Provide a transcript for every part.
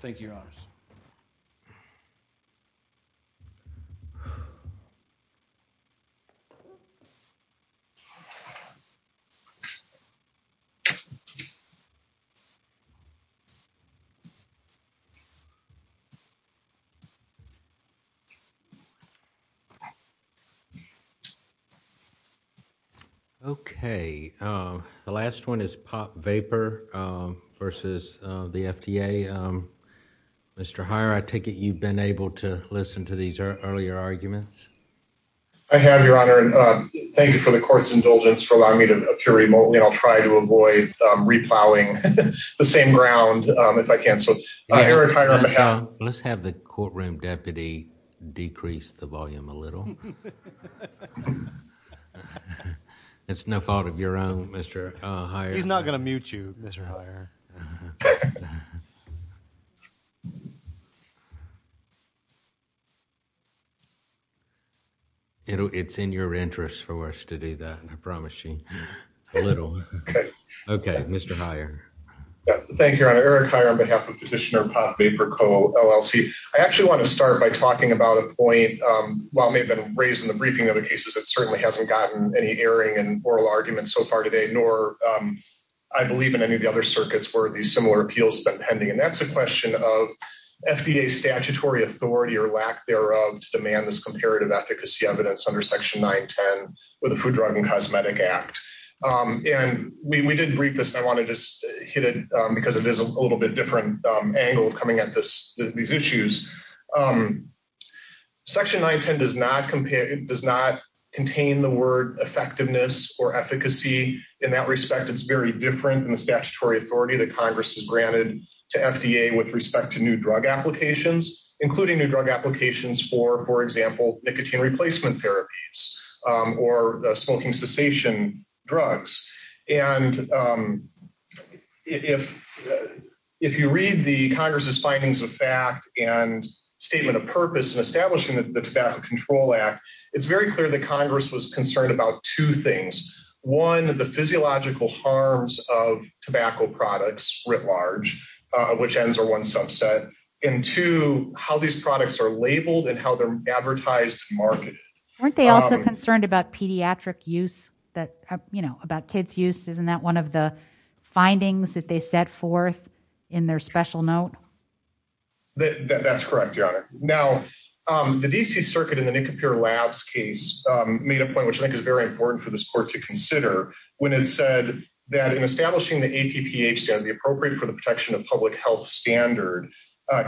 Thank you, your honors. Okay, the last one is Pop Vapor versus the FDA. Okay, Mr. Heyer, I take it you've been able to listen to these earlier arguments? I have, your honor, and thank you for the court's indulgence for allowing me to appear remotely. I'll try to avoid re-plowing the same ground if I can. Eric Heyer, may I? Let's have the courtroom deputy decrease the volume a little. It's no fault of your own, Mr. Heyer. He's not going to mute you, Mr. Heyer. It's in your interest for us to do that, and I promise you a little. Okay, Mr. Heyer. Thank you, your honor. Eric Heyer on behalf of Petitioner Pop Vapor Co. LLC. I actually want to start by talking about a point, while it may have been raised in the briefing of the cases, it certainly hasn't gotten any airing in oral arguments so far today, nor I believe in any of the other circuits where these similar appeals have been pending. And that's a question of FDA statutory authority or lack thereof to demand this comparative efficacy evidence under Section 910 with the Food, Drug, and Cosmetic Act. And we did brief this, and I want to just hit it because it is a little bit different angle coming at these issues. Section 910 does not contain the word effectiveness or efficacy. In that respect, it's very different than the statutory authority that Congress has granted to FDA with respect to new drug applications, including new drug applications for, for example, nicotine replacement therapies or smoking cessation drugs. And if you read the Congress's findings of fact and statement of purpose in establishing the Tobacco Control Act, it's very clear that Congress was concerned about two things. One, the physiological harms of tobacco products writ large, which ends are one subset, and two, how these products are labeled and how they're advertised and marketed. Weren't they also concerned about pediatric use that, you know, about kids' use? Isn't that one of the findings that they set forth in their special note? That's correct, Your Honor. Now, the D.C. Circuit in the Nicopere Labs case made a point, which I think is very important for this court to consider, when it said that in establishing the APPH standard would be appropriate for the protection of public health standard,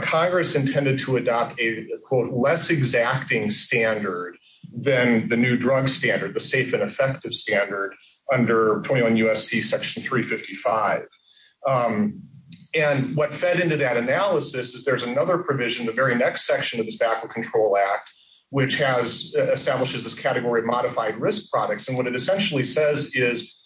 Congress intended to adopt a, quote, less exacting standard than the new drug standard, the safe and effective standard under 21 U.S.C. Section 355. And what fed into that analysis is there's another provision, the very next section of the Tobacco Control Act, which has established this category of modified risk products. And what it essentially says is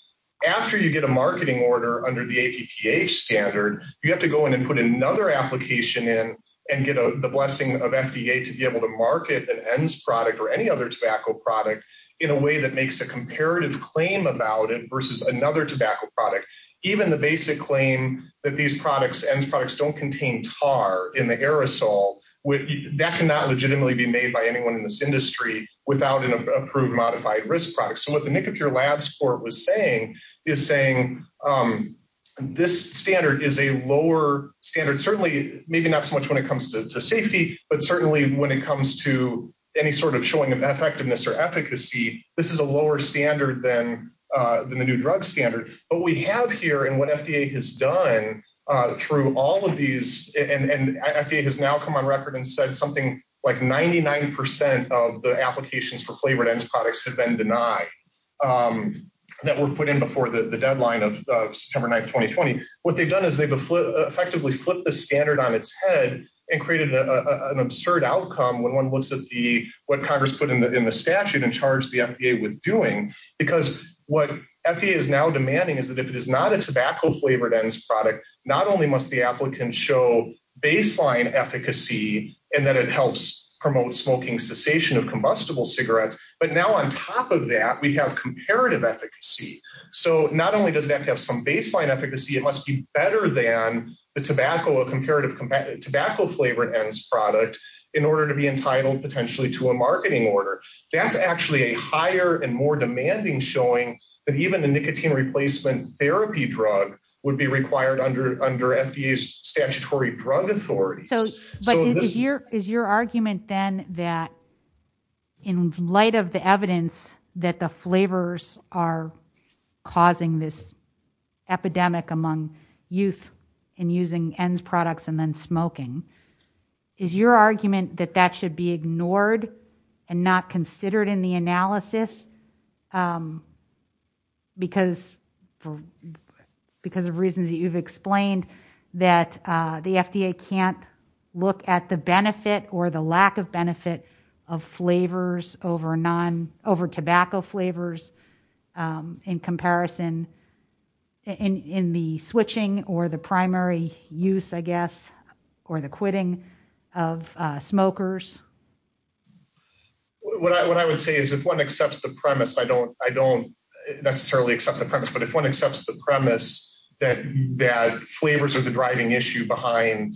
after you get a marketing order under the APPH standard, you have to go in and put another application in and get the blessing of FDA to be able to market an ENDS product or any other tobacco product in a way that makes a comparative claim about it versus another tobacco product. Even the basic claim that these products, ENDS products, don't contain tar in the aerosol, that cannot legitimately be made by anyone in this industry without an approved modified risk product. So what the Nicopere Labs court was saying is saying this standard is a lower standard, certainly maybe not so much when it comes to safety, but certainly when it comes to any sort of showing of effectiveness or efficacy, this is a lower standard than the new drug standard. But what we have here and what FDA has done through all of these, and FDA has now come on record and said something like 99% of the applications for flavored ENDS products have been denied, that were put in before the deadline of September 9th, 2020. What they've done is they've effectively flipped the standard on its head and created an absurd outcome when one looks at what Congress put in the statute and charged the FDA with doing. Because what FDA is now demanding is that if it is not a tobacco flavored ENDS product, not only must the applicant show baseline efficacy and that it helps promote smoking cessation of combustible cigarettes, but now on top of that, we have comparative efficacy. So not only does it have to have some baseline efficacy, it must be better than the tobacco, a comparative tobacco flavored ENDS product in order to be entitled potentially to a marketing order. That's actually a higher and more demanding showing that even the nicotine replacement therapy drug would be required under FDA's statutory drug authorities. Is your argument then that in light of the evidence that the flavors are causing this epidemic among youth and using ENDS products and then smoking, is your argument that that should be ignored and not considered in the analysis because of reasons that you've explained that the FDA can't look at the benefit or the lack of benefit of flavors over tobacco flavors in comparison in the switching or the primary use, I guess, or the quitting of smokers? What I would say is if one accepts the premise, I don't necessarily accept the premise, but if one accepts the premise that flavors are the driving issue behind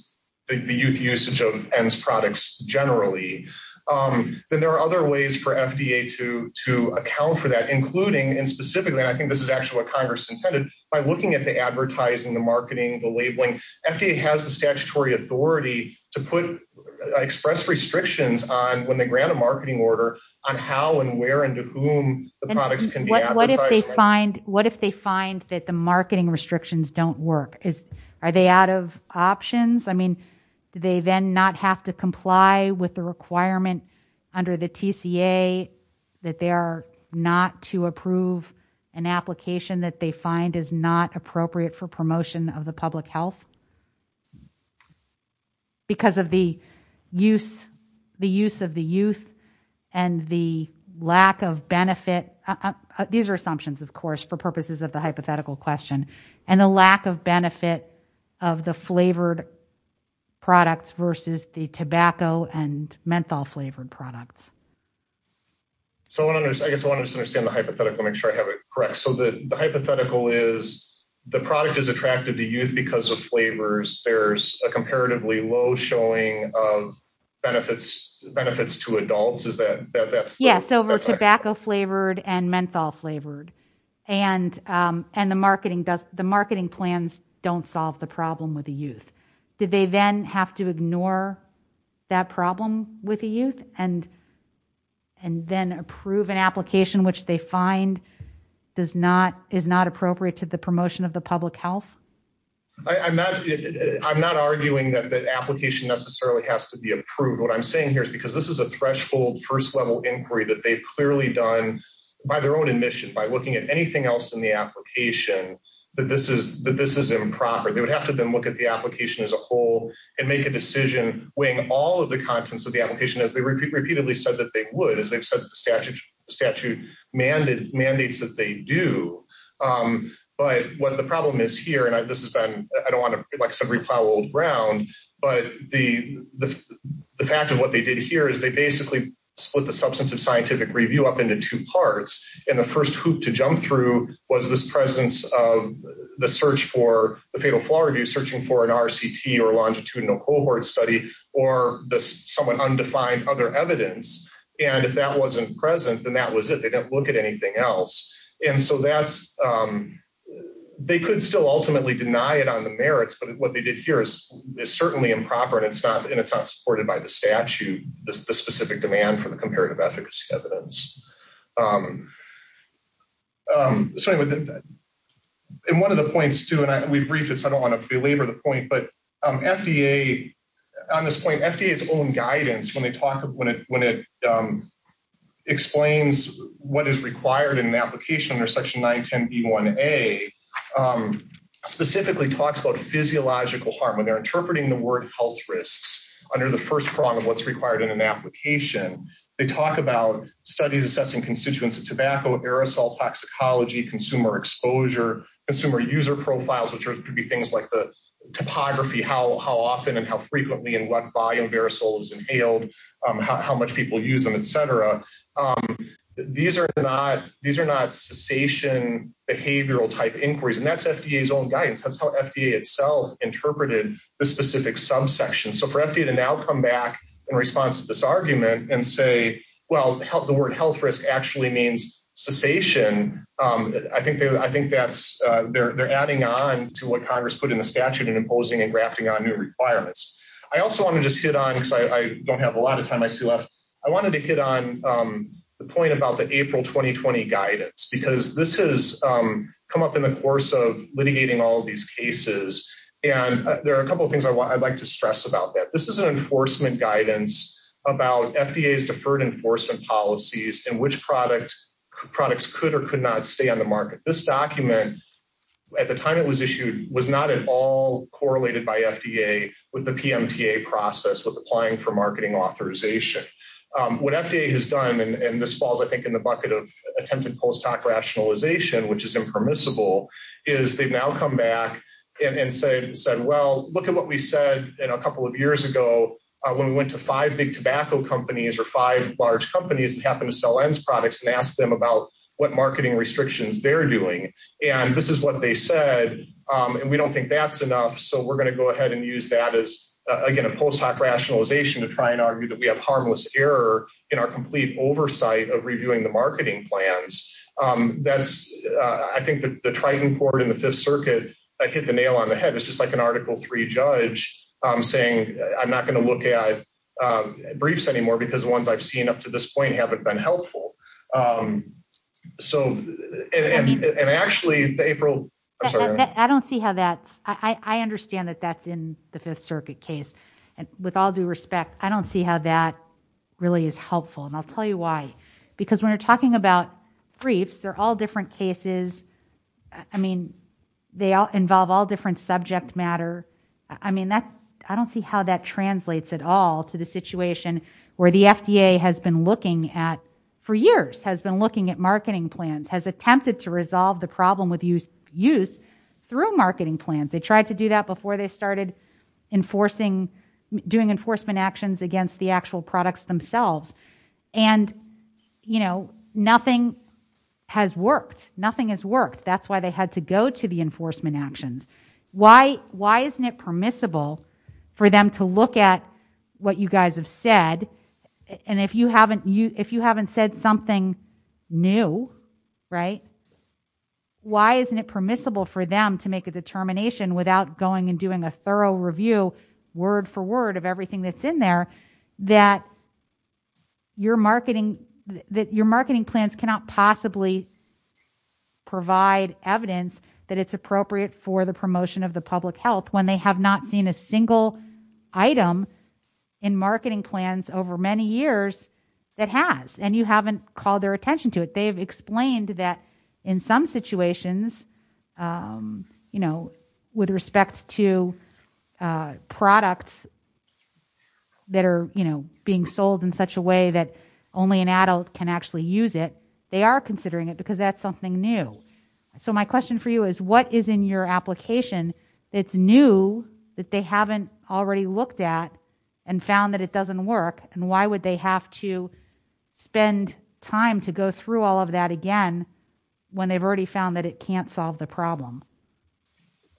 the youth usage of ENDS products generally, then there are other ways for FDA to account for that, including and specifically, and I think this is actually what Congress intended, by looking at the advertising, the marketing, the labeling. FDA has the statutory authority to express restrictions on when they grant a marketing order on how and where and to whom the products can be advertised. What if they find that the marketing restrictions don't work? Are they out of options? Do they then not have to comply with the requirement under the TCA that they are not to approve an application that they find is not appropriate for promotion of the public health because of the use of the youth and the lack of benefit? These are assumptions, of course, for purposes of the hypothetical question and the lack of benefit of the flavored products versus the tobacco and menthol flavored products. I guess I want to understand the hypothetical and make sure I have it correct. The hypothetical is the product is attractive to youth because of flavors. There is a comparatively low showing of benefits to adults. Yes, tobacco flavored and menthol flavored. The marketing plans don't solve the problem with the youth. Do they then have to ignore that problem with the youth and then approve an application which they find is not appropriate to the promotion of the public health? I'm not arguing that the application necessarily has to be approved. What I'm saying here is because this is a threshold first-level inquiry that they've clearly done by their own admission, by looking at anything else in the application, that this is improper. They would have to then look at the application as a whole and make a decision weighing all of the contents of the application as they repeatedly said that they would, as they've said the statute mandates that they do. The problem is here, and I don't want to repel old ground, but the fact of what they did here is they basically split the substantive scientific review up into two parts. The first hoop to jump through was this presence of the search for the fatal flaw review, searching for an RCT or longitudinal cohort study or this somewhat undefined other evidence. If that wasn't present, then that was it. They didn't look at anything else. They could still ultimately deny it on the merits, but what they did here is certainly improper, and it's not supported by the statute, the specific demand for the comparative efficacy evidence. One of the points, too, and we've briefed this. I don't want to belabor the point, but FDA, on this point, FDA's own guidance when it explains what is required in an application under section 910B1A specifically talks about physiological harm. When they're interpreting the word health risks under the first prong of what's required in an application, they talk about studies assessing constituents of tobacco, aerosol, toxicology, consumer exposure, consumer user profiles, which could be things like the topography, how often and how frequently and what volume of aerosol is inhaled, how much people use them, etc. These are not cessation behavioral-type inquiries, and that's FDA's own guidance. That's how FDA itself interpreted the specific subsection. So for FDA to now come back in response to this argument and say, well, the word health risk actually means cessation, I think they're adding on to what Congress put in the statute and imposing and grafting on new requirements. I also want to just hit on, because I don't have a lot of time, I still have, I wanted to hit on the point about the April 2020 guidance, because this has come up in the course of litigating all of these cases, and there are a couple of things I'd like to stress about that. This is an enforcement guidance about FDA's deferred enforcement policies and which products could or could not stay on the market. This document, at the time it was issued, was not at all correlated by FDA with the PMTA process, with applying for marketing authorization. What FDA has done, and this falls, I think, in the bucket of attempted post-hoc rationalization, which is impermissible, is they've now come back and said, well, look at what we said a couple of years ago when we went to five big tobacco companies or five large companies that happen to sell ENDS products and asked them about what marketing restrictions they're doing, and this is what they said, and we don't think that's enough, so we're going to go ahead and use that as, again, a post-hoc rationalization to try and argue that we have harmless error in our complete oversight of reviewing the marketing plans. I think the Triton Court in the Fifth Circuit, I hit the nail on the head, it's just like an Article III judge saying I'm not going to look at briefs anymore because the ones I've seen up to this point haven't been helpful. I don't see how that's – I understand that that's in the Fifth Circuit case, and with all due respect, I don't see how that really is helpful, and I'll tell you why. Because when you're talking about briefs, they're all different cases. I mean, they involve all different subject matter. I mean, I don't see how that translates at all to the situation where the FDA has been looking at for years, has been looking at marketing plans, has attempted to resolve the problem with use through marketing plans. They tried to do that before they started enforcing, doing enforcement actions against the actual products themselves, and, you know, nothing has worked. Nothing has worked. That's why they had to go to the enforcement actions. Why isn't it permissible for them to look at what you guys have said, and if you haven't said something new, right, why isn't it permissible for them to make a determination without going and doing a thorough review, word for word of everything that's in there, that your marketing plans cannot possibly provide evidence that it's appropriate for the promotion of the public health when they have not seen a single item in marketing plans over many years that has, and you haven't called their attention to it. They've explained that in some situations, you know, with respect to products that are, you know, being sold in such a way that only an adult can actually use it, they are considering it because that's something new. So my question for you is what is in your application that's new that they haven't already looked at and found that it doesn't work, and why would they have to spend time to go through all of that again when they've already found that it can't solve the problem?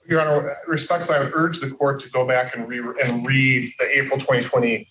Your Honor, respectfully, I would urge the court to go back and read the April 2020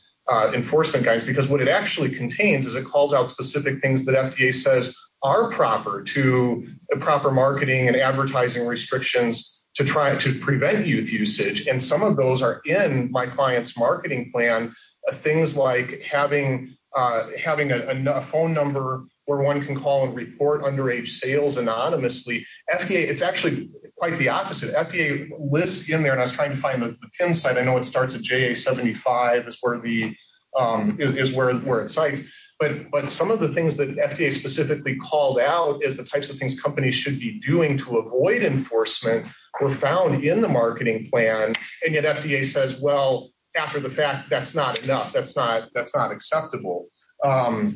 enforcement guidance because what it actually contains is it calls out specific things that FDA says are proper to the proper marketing and advertising restrictions to try to prevent youth usage, and some of those are in my client's marketing plan, things like having a phone number where one can call and report underage sales anonymously. FDA, it's actually quite the opposite. FDA lists in there, and I was trying to find the PIN site. I know it starts at JA75 is where it cites, but some of the things that FDA specifically called out is the types of things companies should be doing to avoid enforcement were found in the marketing plan, and yet FDA says, well, after the fact, that's not enough. That's not acceptable. Well,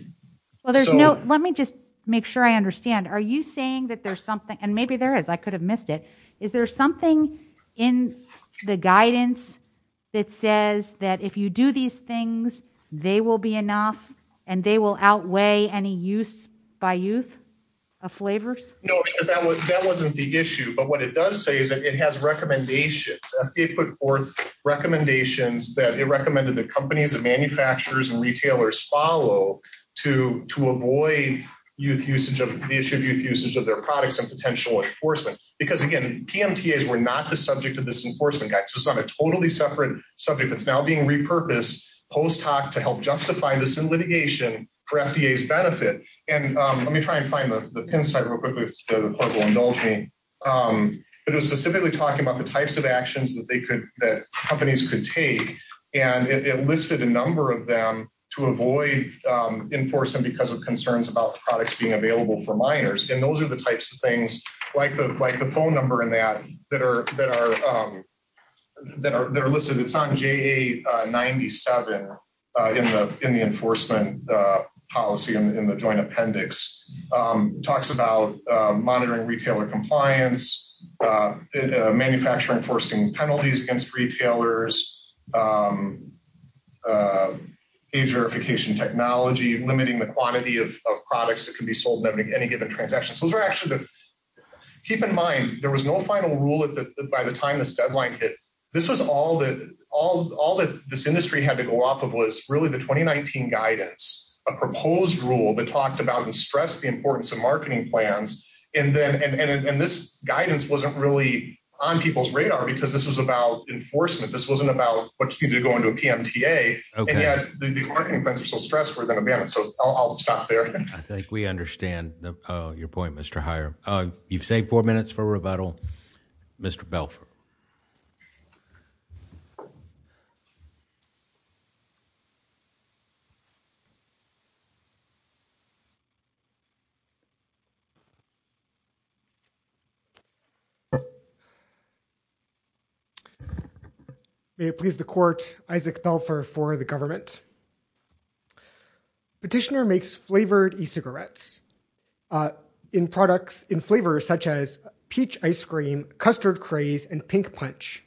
let me just make sure I understand. Are you saying that there's something, and maybe there is. I could have missed it. Is there something in the guidance that says that if you do these things, they will be enough, and they will outweigh any use by youth of flavors? No, because that wasn't the issue, but what it does say is that it has recommendations. FDA put forth recommendations that it recommended that companies and manufacturers and retailers follow to avoid the issue of youth usage of their products and potential enforcement, because, again, PMTAs were not the subject of this enforcement guidance. This is on a totally separate subject that's now being repurposed post hoc to help justify this litigation for FDA's benefit, and let me try and find the PIN site real quickly. The court will indulge me. It was specifically talking about the types of actions that companies could take, and it listed a number of them to avoid enforcement because of concerns about products being available for minors, and those are the types of things, like the phone number and that, that are listed. It's on JA97 in the enforcement policy in the joint appendix. It talks about monitoring retailer compliance, manufacturing enforcing penalties against retailers, age verification technology, limiting the quantity of products that can be sold in any given transaction. So those are actually the – keep in mind, there was no final rule by the time this deadline hit. This was all that this industry had to go off of was really the 2019 guidance, a proposed rule that talked about and stressed the importance of marketing plans, and this guidance wasn't really on people's radar because this was about enforcement. This wasn't about what you do to go into a PMTA, and yet these marketing plans are so stressful. So I'll stop there. I think we understand your point, Mr. Heyer. You've saved four minutes for rebuttal. Mr. Belfer. May it please the court, Isaac Belfer for the government. Petitioner makes flavored e-cigarettes in flavors such as peach ice cream, custard craze, and pink punch.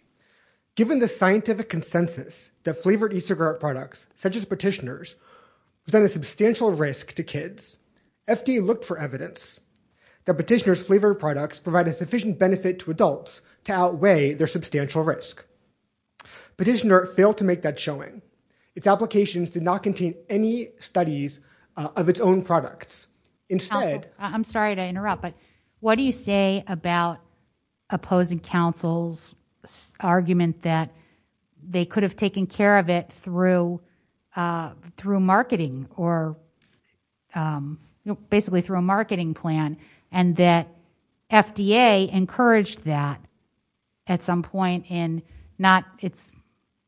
Given the scientific consensus that flavored e-cigarette products, such as Petitioner's, present a substantial risk to kids, FD looked for evidence that Petitioner's flavored products provide a sufficient benefit to adults to outweigh their substantial risk. Petitioner failed to make that showing. Its applications did not contain any studies of its own products. Counsel, I'm sorry to interrupt, but what do you say about opposing counsel's argument that they could have taken care of it through marketing or basically through a marketing plan and that FDA encouraged that at some point in not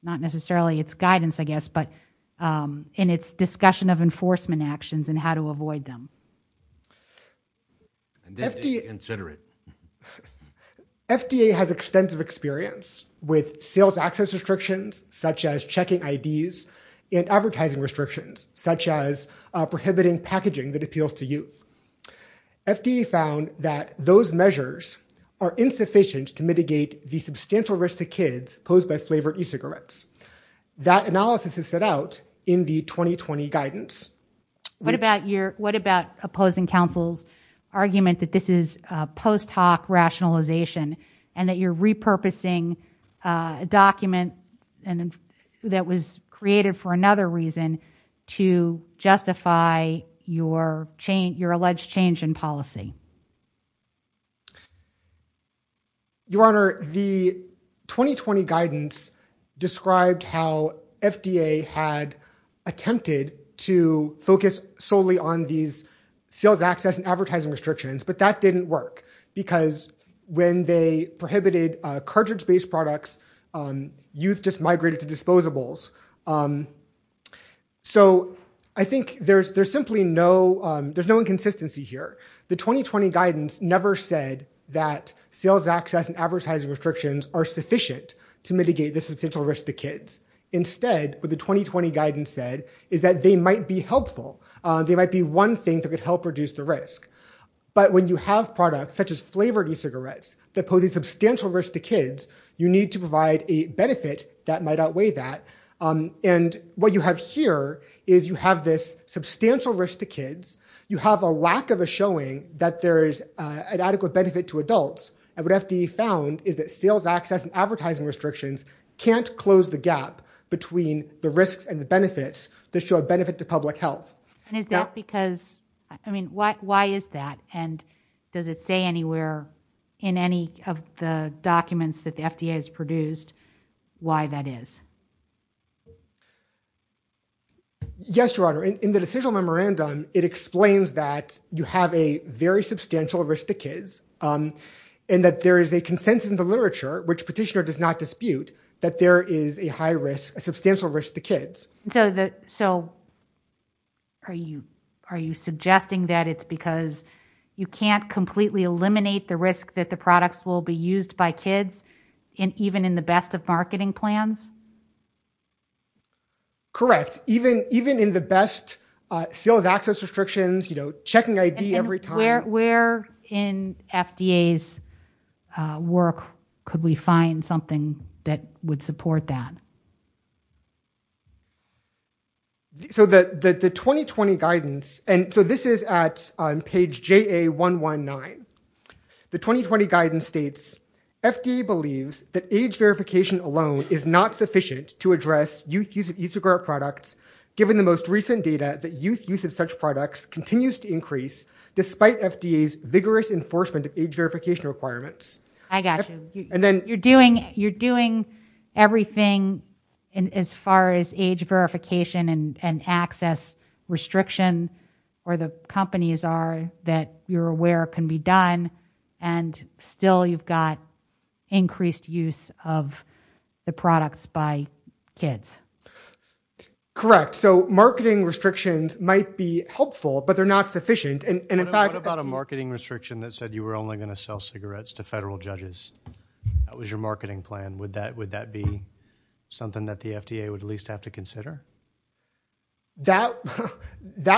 necessarily its guidance, I guess, but in its discussion of enforcement actions and how to avoid them? FDA has extensive experience with sales access restrictions, such as checking IDs, and advertising restrictions, such as prohibiting packaging that appeals to youth. FDA found that those measures are insufficient to mitigate the substantial risk to kids posed by flavored e-cigarettes. That analysis is set out in the 2020 guidance. What about opposing counsel's argument that this is post hoc rationalization and that you're repurposing a document that was created for another reason to justify your alleged change in policy? Your Honor, the 2020 guidance described how FDA had attempted to focus solely on these sales access and advertising restrictions, but that didn't work because when they prohibited cartridge-based products, youth just migrated to disposables. I think there's simply no inconsistency here. The 2020 guidance never said that sales access and advertising restrictions are sufficient to mitigate the substantial risk to kids. Instead, what the 2020 guidance said is that they might be helpful. They might be one thing that could help reduce the risk. But when you have products such as flavored e-cigarettes that pose a substantial risk to kids, you need to provide a benefit that might outweigh that. What you have here is you have this substantial risk to kids. You have a lack of a showing that there is an adequate benefit to adults. What FDA found is that sales access and advertising restrictions can't close the gap between the risks and the benefits to show a benefit to public health. Why is that? Does it say anywhere in any of the documents that the FDA has produced why that is? Yes, Your Honor. In the decisional memorandum, it explains that you have a very substantial risk to kids and that there is a consensus in the literature, which Petitioner does not dispute, that there is a substantial risk to kids. Are you suggesting that it's because you can't completely eliminate the risk that the products will be used by kids even in the best of marketing plans? Correct. Even in the best sales access restrictions, checking ID every time. Where in FDA's work could we find something that would support that? So the 2020 guidance, and so this is at page JA119. The 2020 guidance states, FDA believes that age verification alone is not sufficient to address youth use of e-cigarette products, given the most recent data that youth use of such products continues to increase despite FDA's vigorous enforcement of age verification requirements. I got you. You're doing everything as far as age verification and access restriction or the companies are that you're aware can be done and still you've got increased use of the products by kids. Correct. So marketing restrictions might be helpful, but they're not sufficient. What about a marketing restriction that said you were only going to sell cigarettes to federal judges? That was your marketing plan. Would that be something that the FDA would at least have to consider? That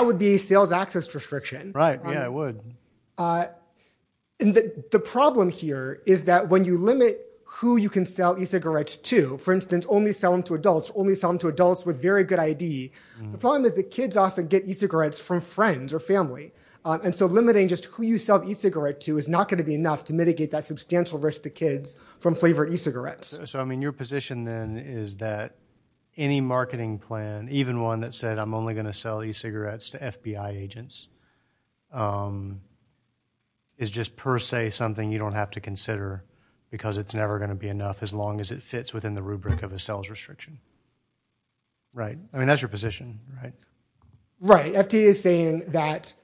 would be a sales access restriction. Right. Yeah, it would. The problem here is that when you limit who you can sell e-cigarettes to, for instance, only sell them to adults, only sell them to adults with very good ID, the problem is that kids often get e-cigarettes from friends or family. And so limiting just who you sell the e-cigarette to is not going to be enough to mitigate that substantial risk to kids from flavored e-cigarettes. So, I mean, your position then is that any marketing plan, even one that said I'm only going to sell e-cigarettes to FBI agents, is just per se something you don't have to consider because it's never going to be enough as long as it fits within the rubric of a sales restriction. Right. I mean, that's your position, right? Right. The FDA is saying that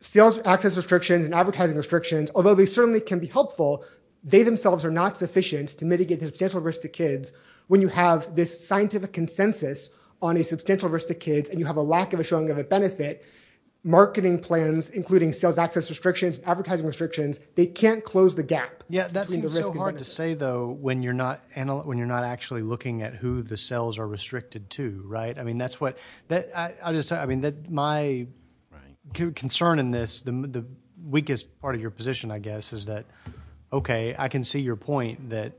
sales access restrictions and advertising restrictions, although they certainly can be helpful, they themselves are not sufficient to mitigate the substantial risk to kids when you have this scientific consensus on a substantial risk to kids and you have a lack of a showing of a benefit. Marketing plans, including sales access restrictions, advertising restrictions, they can't close the gap. Yeah, that seems so hard to say, though, when you're not actually looking at who the sales are restricted to, right? My concern in this, the weakest part of your position, I guess, is that, okay, I can see your point that,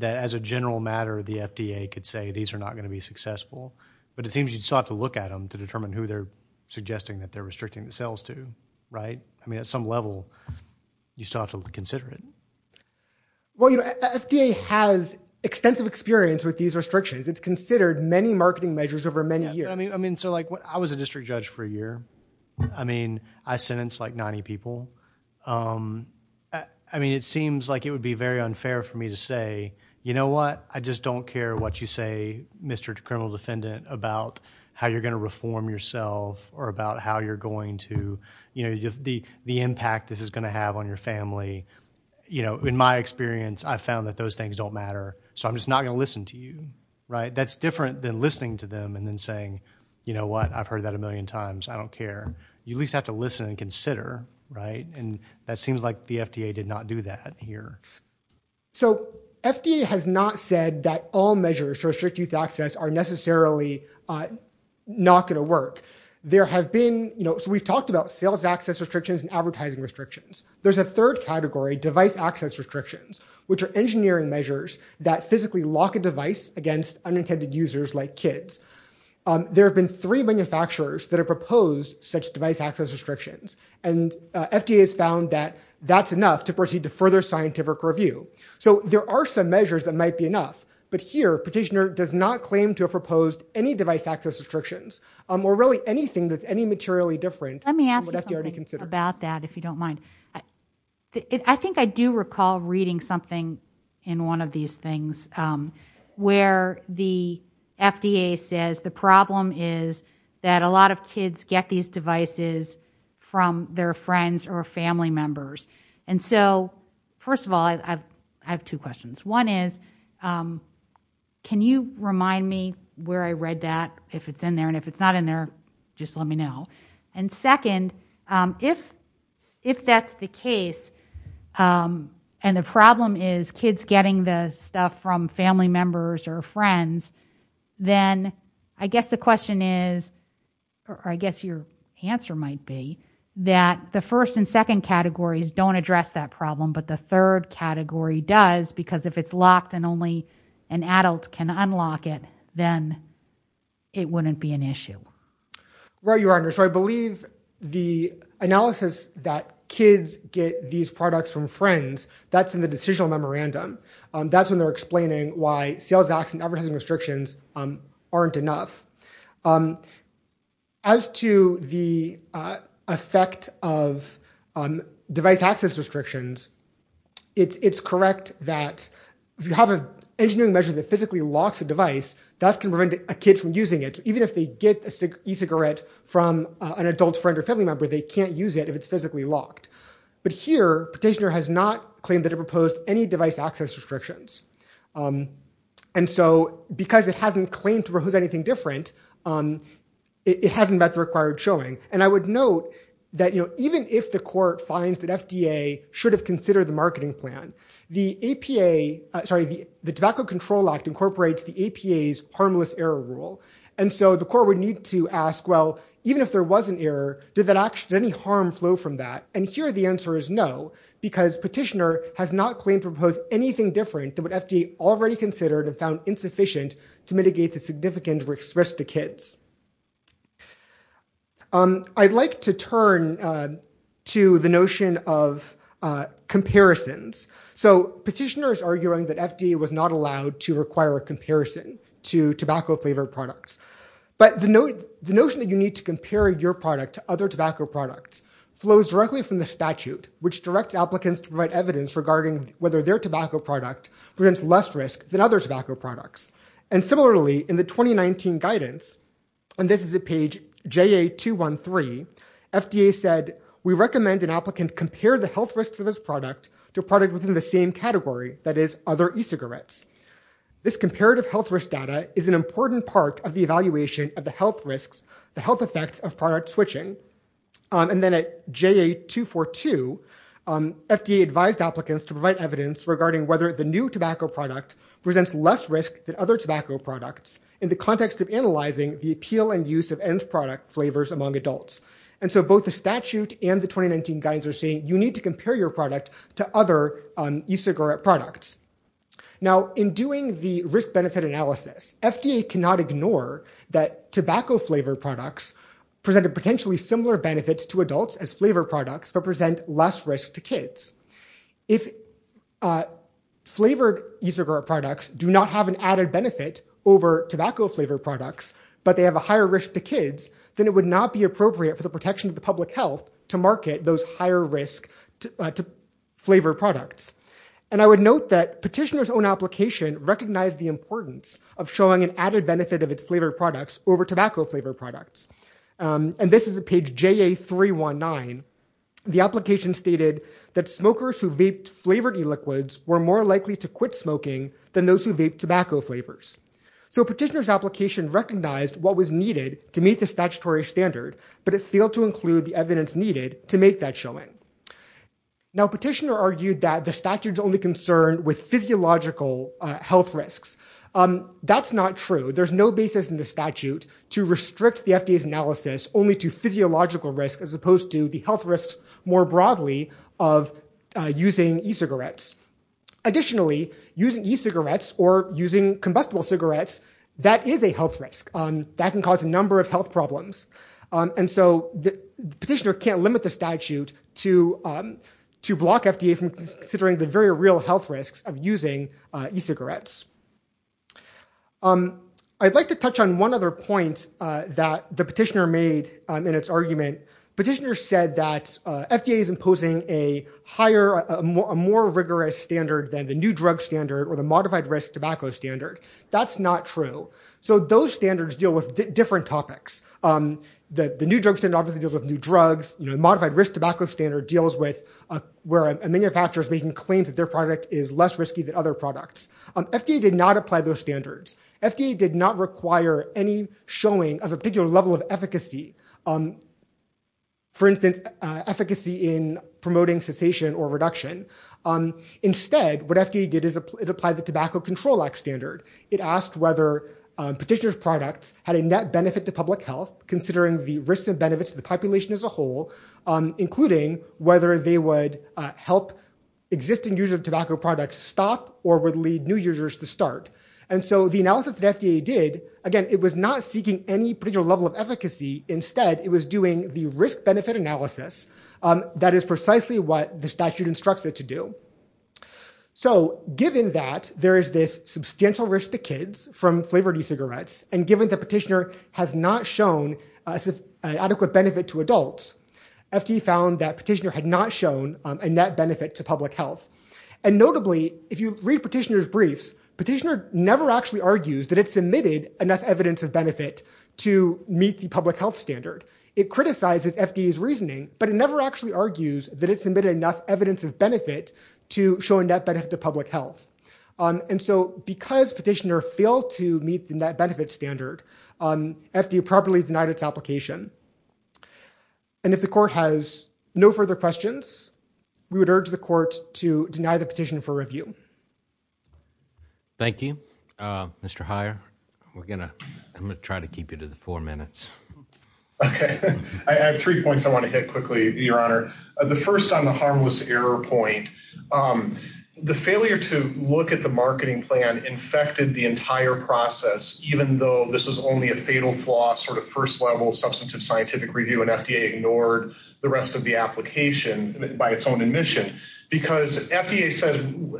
as a general matter, the FDA could say these are not going to be successful, but it seems you still have to look at them to determine who they're suggesting that they're restricting the sales to, right? I mean, at some level, you still have to consider it. Well, you know, FDA has extensive experience with these restrictions. It's considered many marketing measures over many years. I mean, so, like, I was a district judge for a year. I mean, I sentenced, like, 90 people. I mean, it seems like it would be very unfair for me to say, you know what, I just don't care what you say, Mr. Criminal Defendant, about how you're going to reform yourself or about how you're going to, you know, the impact this is going to have on your family. You know, in my experience, I've found that those things don't matter, so I'm just not going to listen to you, right? That's different than listening to them and then saying, you know what, I've heard that a million times, I don't care. You at least have to listen and consider, right? And that seems like the FDA did not do that here. So FDA has not said that all measures to restrict youth access are necessarily not going to work. There have been... So we've talked about sales access restrictions and advertising restrictions. There's a third category, device access restrictions, which are engineering measures that physically lock a device against unintended users like kids. There have been three manufacturers that have proposed such device access restrictions, and FDA has found that that's enough to proceed to further scientific review. So there are some measures that might be enough, but here Petitioner does not claim to have proposed any device access restrictions or really anything that's any materially different than what FDA already considered. Let me ask you something about that, if you don't mind. I think I do recall reading something in one of these things where the FDA says the problem is that a lot of kids get these devices from their friends or family members. And so, first of all, I have two questions. One is, can you remind me where I read that, if it's in there? And if it's not in there, just let me know. And second, if that's the case, and the problem is kids getting the stuff from family members or friends, then I guess the question is, or I guess your answer might be, that the first and second categories don't address that problem, but the third category does, because if it's locked and only an adult can unlock it, then it wouldn't be an issue. Right, Your Honor. So I believe the analysis that kids get these products from friends, that's in the decisional memorandum. That's when they're explaining why sales tax and advertising restrictions aren't enough. As to the effect of device access restrictions, it's correct that if you have an engineering measure that physically locks a device, that's going to prevent a kid from using it, because even if they get an e-cigarette from an adult friend or family member, they can't use it if it's physically locked. But here, Petitioner has not claimed that it proposed any device access restrictions. And so because it hasn't claimed to propose anything different, it hasn't met the required showing. And I would note that even if the court finds that FDA should have considered the marketing plan, the Tobacco Control Act incorporates the APA's Harmless Error Rule, and so the court would need to ask, well, even if there was an error, did any harm flow from that? And here the answer is no, because Petitioner has not claimed to propose anything different than what FDA already considered and found insufficient to mitigate the significant risk to kids. I'd like to turn to the notion of comparisons. So Petitioner is arguing that FDA was not allowed to require a comparison to tobacco-flavored products. But the notion that you need to compare your product to other tobacco products flows directly from the statute, which directs applicants to provide evidence regarding whether their tobacco product presents less risk than other tobacco products. And similarly, in the 2019 guidance, and this is at page JA213, FDA said, we recommend an applicant compare the health risks of his product to a product within the same category, that is, other e-cigarettes. This comparative health risk data is an important part of the evaluation of the health risks, the health effects of product switching. And then at JA242, FDA advised applicants to provide evidence regarding whether the new tobacco product presents less risk than other tobacco products in the context of analyzing the appeal and use of end-product flavors among adults. And so both the statute and the 2019 guidance are saying that you need to compare your product to other e-cigarette products. Now, in doing the risk-benefit analysis, FDA cannot ignore that tobacco-flavored products presented potentially similar benefits to adults as flavor products but present less risk to kids. If flavored e-cigarette products do not have an added benefit over tobacco-flavored products, but they have a higher risk to kids, then it would not be appropriate for the protection of the public health to market those higher-risk flavor products. And I would note that Petitioner's own application recognized the importance of showing an added benefit of its flavored products over tobacco-flavored products. And this is at page JA319. The application stated that smokers who vaped flavored e-liquids were more likely to quit smoking than those who vaped tobacco flavors. So Petitioner's application recognized what was needed to meet the statutory standard, but it failed to include the evidence needed to make that showing. Now, Petitioner argued that the statute is only concerned with physiological health risks. That's not true. There's no basis in the statute to restrict the FDA's analysis only to physiological risks as opposed to the health risks more broadly of using e-cigarettes. Additionally, using e-cigarettes or using combustible cigarettes, that is a health risk. That can cause a number of health problems. And so Petitioner can't limit the statute to block FDA from considering the very real health risks of using e-cigarettes. I'd like to touch on one other point that the Petitioner made in its argument. Petitioner said that FDA is imposing a higher, a more rigorous standard than the new drug standard or the modified-risk tobacco standard. That's not true. So those standards deal with different topics. The new drug standard obviously deals with new drugs. The modified-risk tobacco standard deals with where a manufacturer is making claims that their product is less risky than other products. FDA did not apply those standards. FDA did not require any showing of a particular level of efficacy, for instance, efficacy in promoting cessation or reduction. Instead, what FDA did is it applied the Tobacco Control Act standard. It asked whether Petitioner's products had a net benefit to public health, considering the risks and benefits to the population as a whole, including whether they would help existing use of tobacco products stop or would lead new users to start. And so the analysis that FDA did, again, it was not seeking any particular level of efficacy. Instead, it was doing the risk-benefit analysis. That is precisely what the statute instructs it to do. So given that there is this substantial risk to kids from flavored e-cigarettes, and given that Petitioner has not shown an adequate benefit to adults, FDA found that Petitioner had not shown a net benefit to public health. And notably, if you read Petitioner's briefs, Petitioner never actually argues that it submitted enough evidence of benefit to meet the public health standard. It criticizes FDA's reasoning, but it never actually argues that it submitted enough evidence of benefit to show a net benefit to public health. And so because Petitioner failed to meet the net benefit standard, FDA properly denied its application. And if the Court has no further questions, we would urge the Court to deny the petition for review. Thank you. Mr. Heyer, I'm going to try to keep you to the four minutes. Okay. I have three points I want to hit quickly, Your Honor. The first on the harmless error point, the failure to look at the marketing plan infected the entire process, even though this was only a fatal flaw, sort of first-level substantive scientific review, and FDA ignored the rest of the application by its own admission. Because FDA says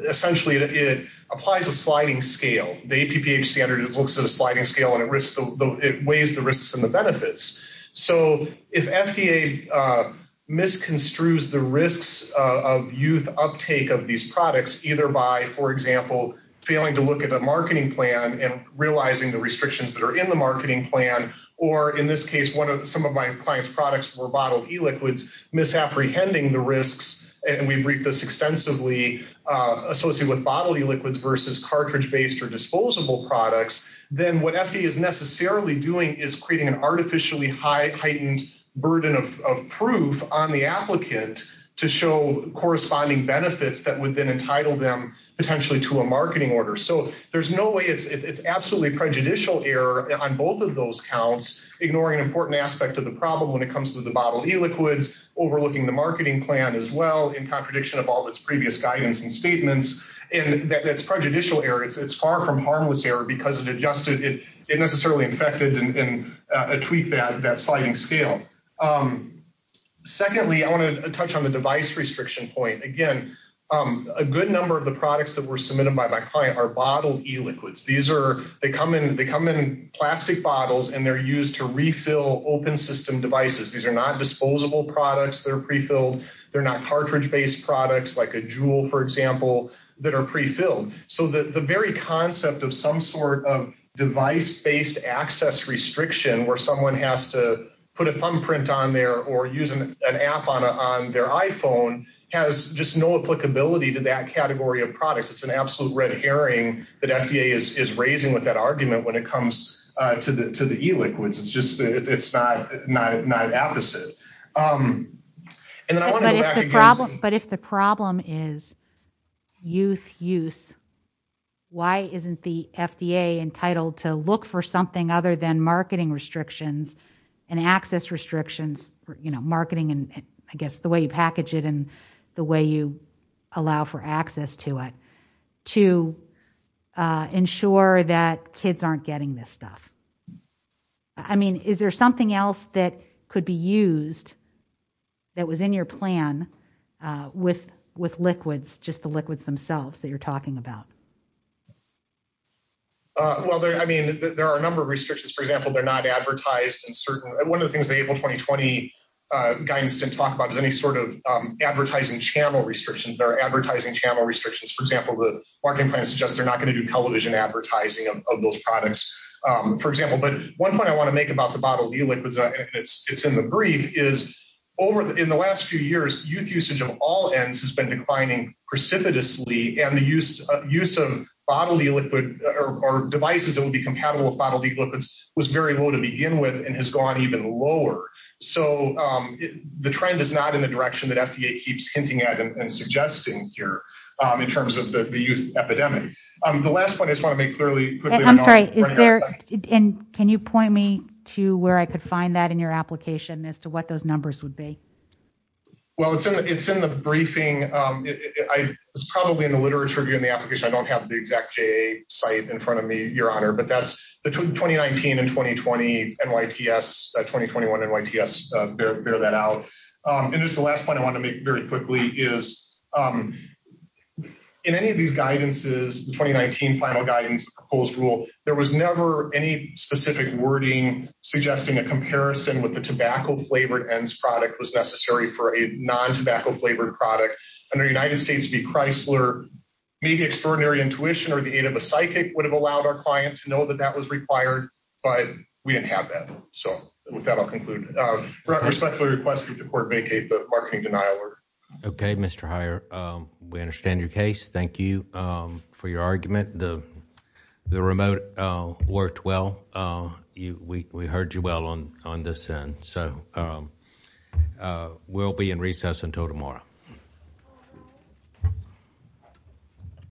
essentially it applies a sliding scale. The APPH standard looks at a sliding scale, and it weighs the risks and the benefits. So if FDA misconstrues the risks of youth uptake of these products, either by, for example, failing to look at a marketing plan and realizing the restrictions that are in the marketing plan, or in this case some of my client's products were bottled e-liquids, misapprehending the risks, and we briefed this extensively, associated with bottled e-liquids versus cartridge-based or disposable products, then what FDA is necessarily doing is creating an artificially heightened burden of proof on the applicant to show corresponding benefits that would then entitle them potentially to a marketing order. So there's no way it's absolutely prejudicial error on both of those counts, ignoring an important aspect of the problem when it comes to the bottled e-liquids, overlooking the marketing plan as well in contradiction of all its previous guidance and statements, and that's prejudicial error. It's far from harmless error because it adjusted, it necessarily infected and tweaked that sliding scale. Secondly, I want to touch on the device restriction point. Again, a good number of the products that were submitted by my client are bottled e-liquids. They come in plastic bottles, and they're used to refill open system devices. These are not disposable products that are prefilled. They're not cartridge-based products like a Juul, for example, that are prefilled. So the very concept of some sort of device-based access restriction where someone has to put a thumbprint on there or use an app on their iPhone has just no applicability to that category of products. It's an absolute red herring that FDA is raising with that argument when it comes to the e-liquids. It's just not an opposite. But if the problem is youth use, why isn't the FDA entitled to look for something other than marketing restrictions and access restrictions, marketing and I guess the way you package it and the way you allow for access to it, to ensure that kids aren't getting this stuff? I mean, is there something else that could be used that was in your plan with liquids, just the liquids themselves that you're talking about? Well, I mean, there are a number of restrictions. For example, they're not advertised. One of the things the April 2020 guidance didn't talk about is any sort of advertising channel restrictions. There are advertising channel restrictions. For example, the marketing plan suggests they're not going to do television advertising of those products, for example. But one point I want to make about the bottled e-liquids, it's in the brief, is in the last few years, youth usage of all ends has been declining precipitously and the use of bottled e-liquid or devices that would be compatible with bottled e-liquids was very low to begin with and has gone even lower. So the trend is not in the direction that FDA keeps hinting at and suggesting here in terms of the youth epidemic. The last point I just want to make clearly. I'm sorry. Can you point me to where I could find that in your application as to what those numbers would be? Well, it's in the briefing. It's probably in the literature in the application. I don't have the exact J site in front of me, Your Honor, but that's the 2019 and 2020 NYTS, 2021 NYTS, bear that out. And just the last point I want to make very quickly is in any of these guidances, the 2019 final guidance proposed rule, there was never any specific wording suggesting a comparison with the tobacco-flavored ENDS product was necessary for a non-tobacco-flavored product. Under United States v. Chrysler, maybe extraordinary intuition or the aid of a psychic would have allowed our client to know that that was required, but we didn't have that. So with that, I'll conclude. Respectfully request that the court vacate the marketing denial order. Okay, Mr. Heyer. We understand your case. Thank you for your argument. The remote worked well. We heard you well on this end. So we'll be in recess until tomorrow.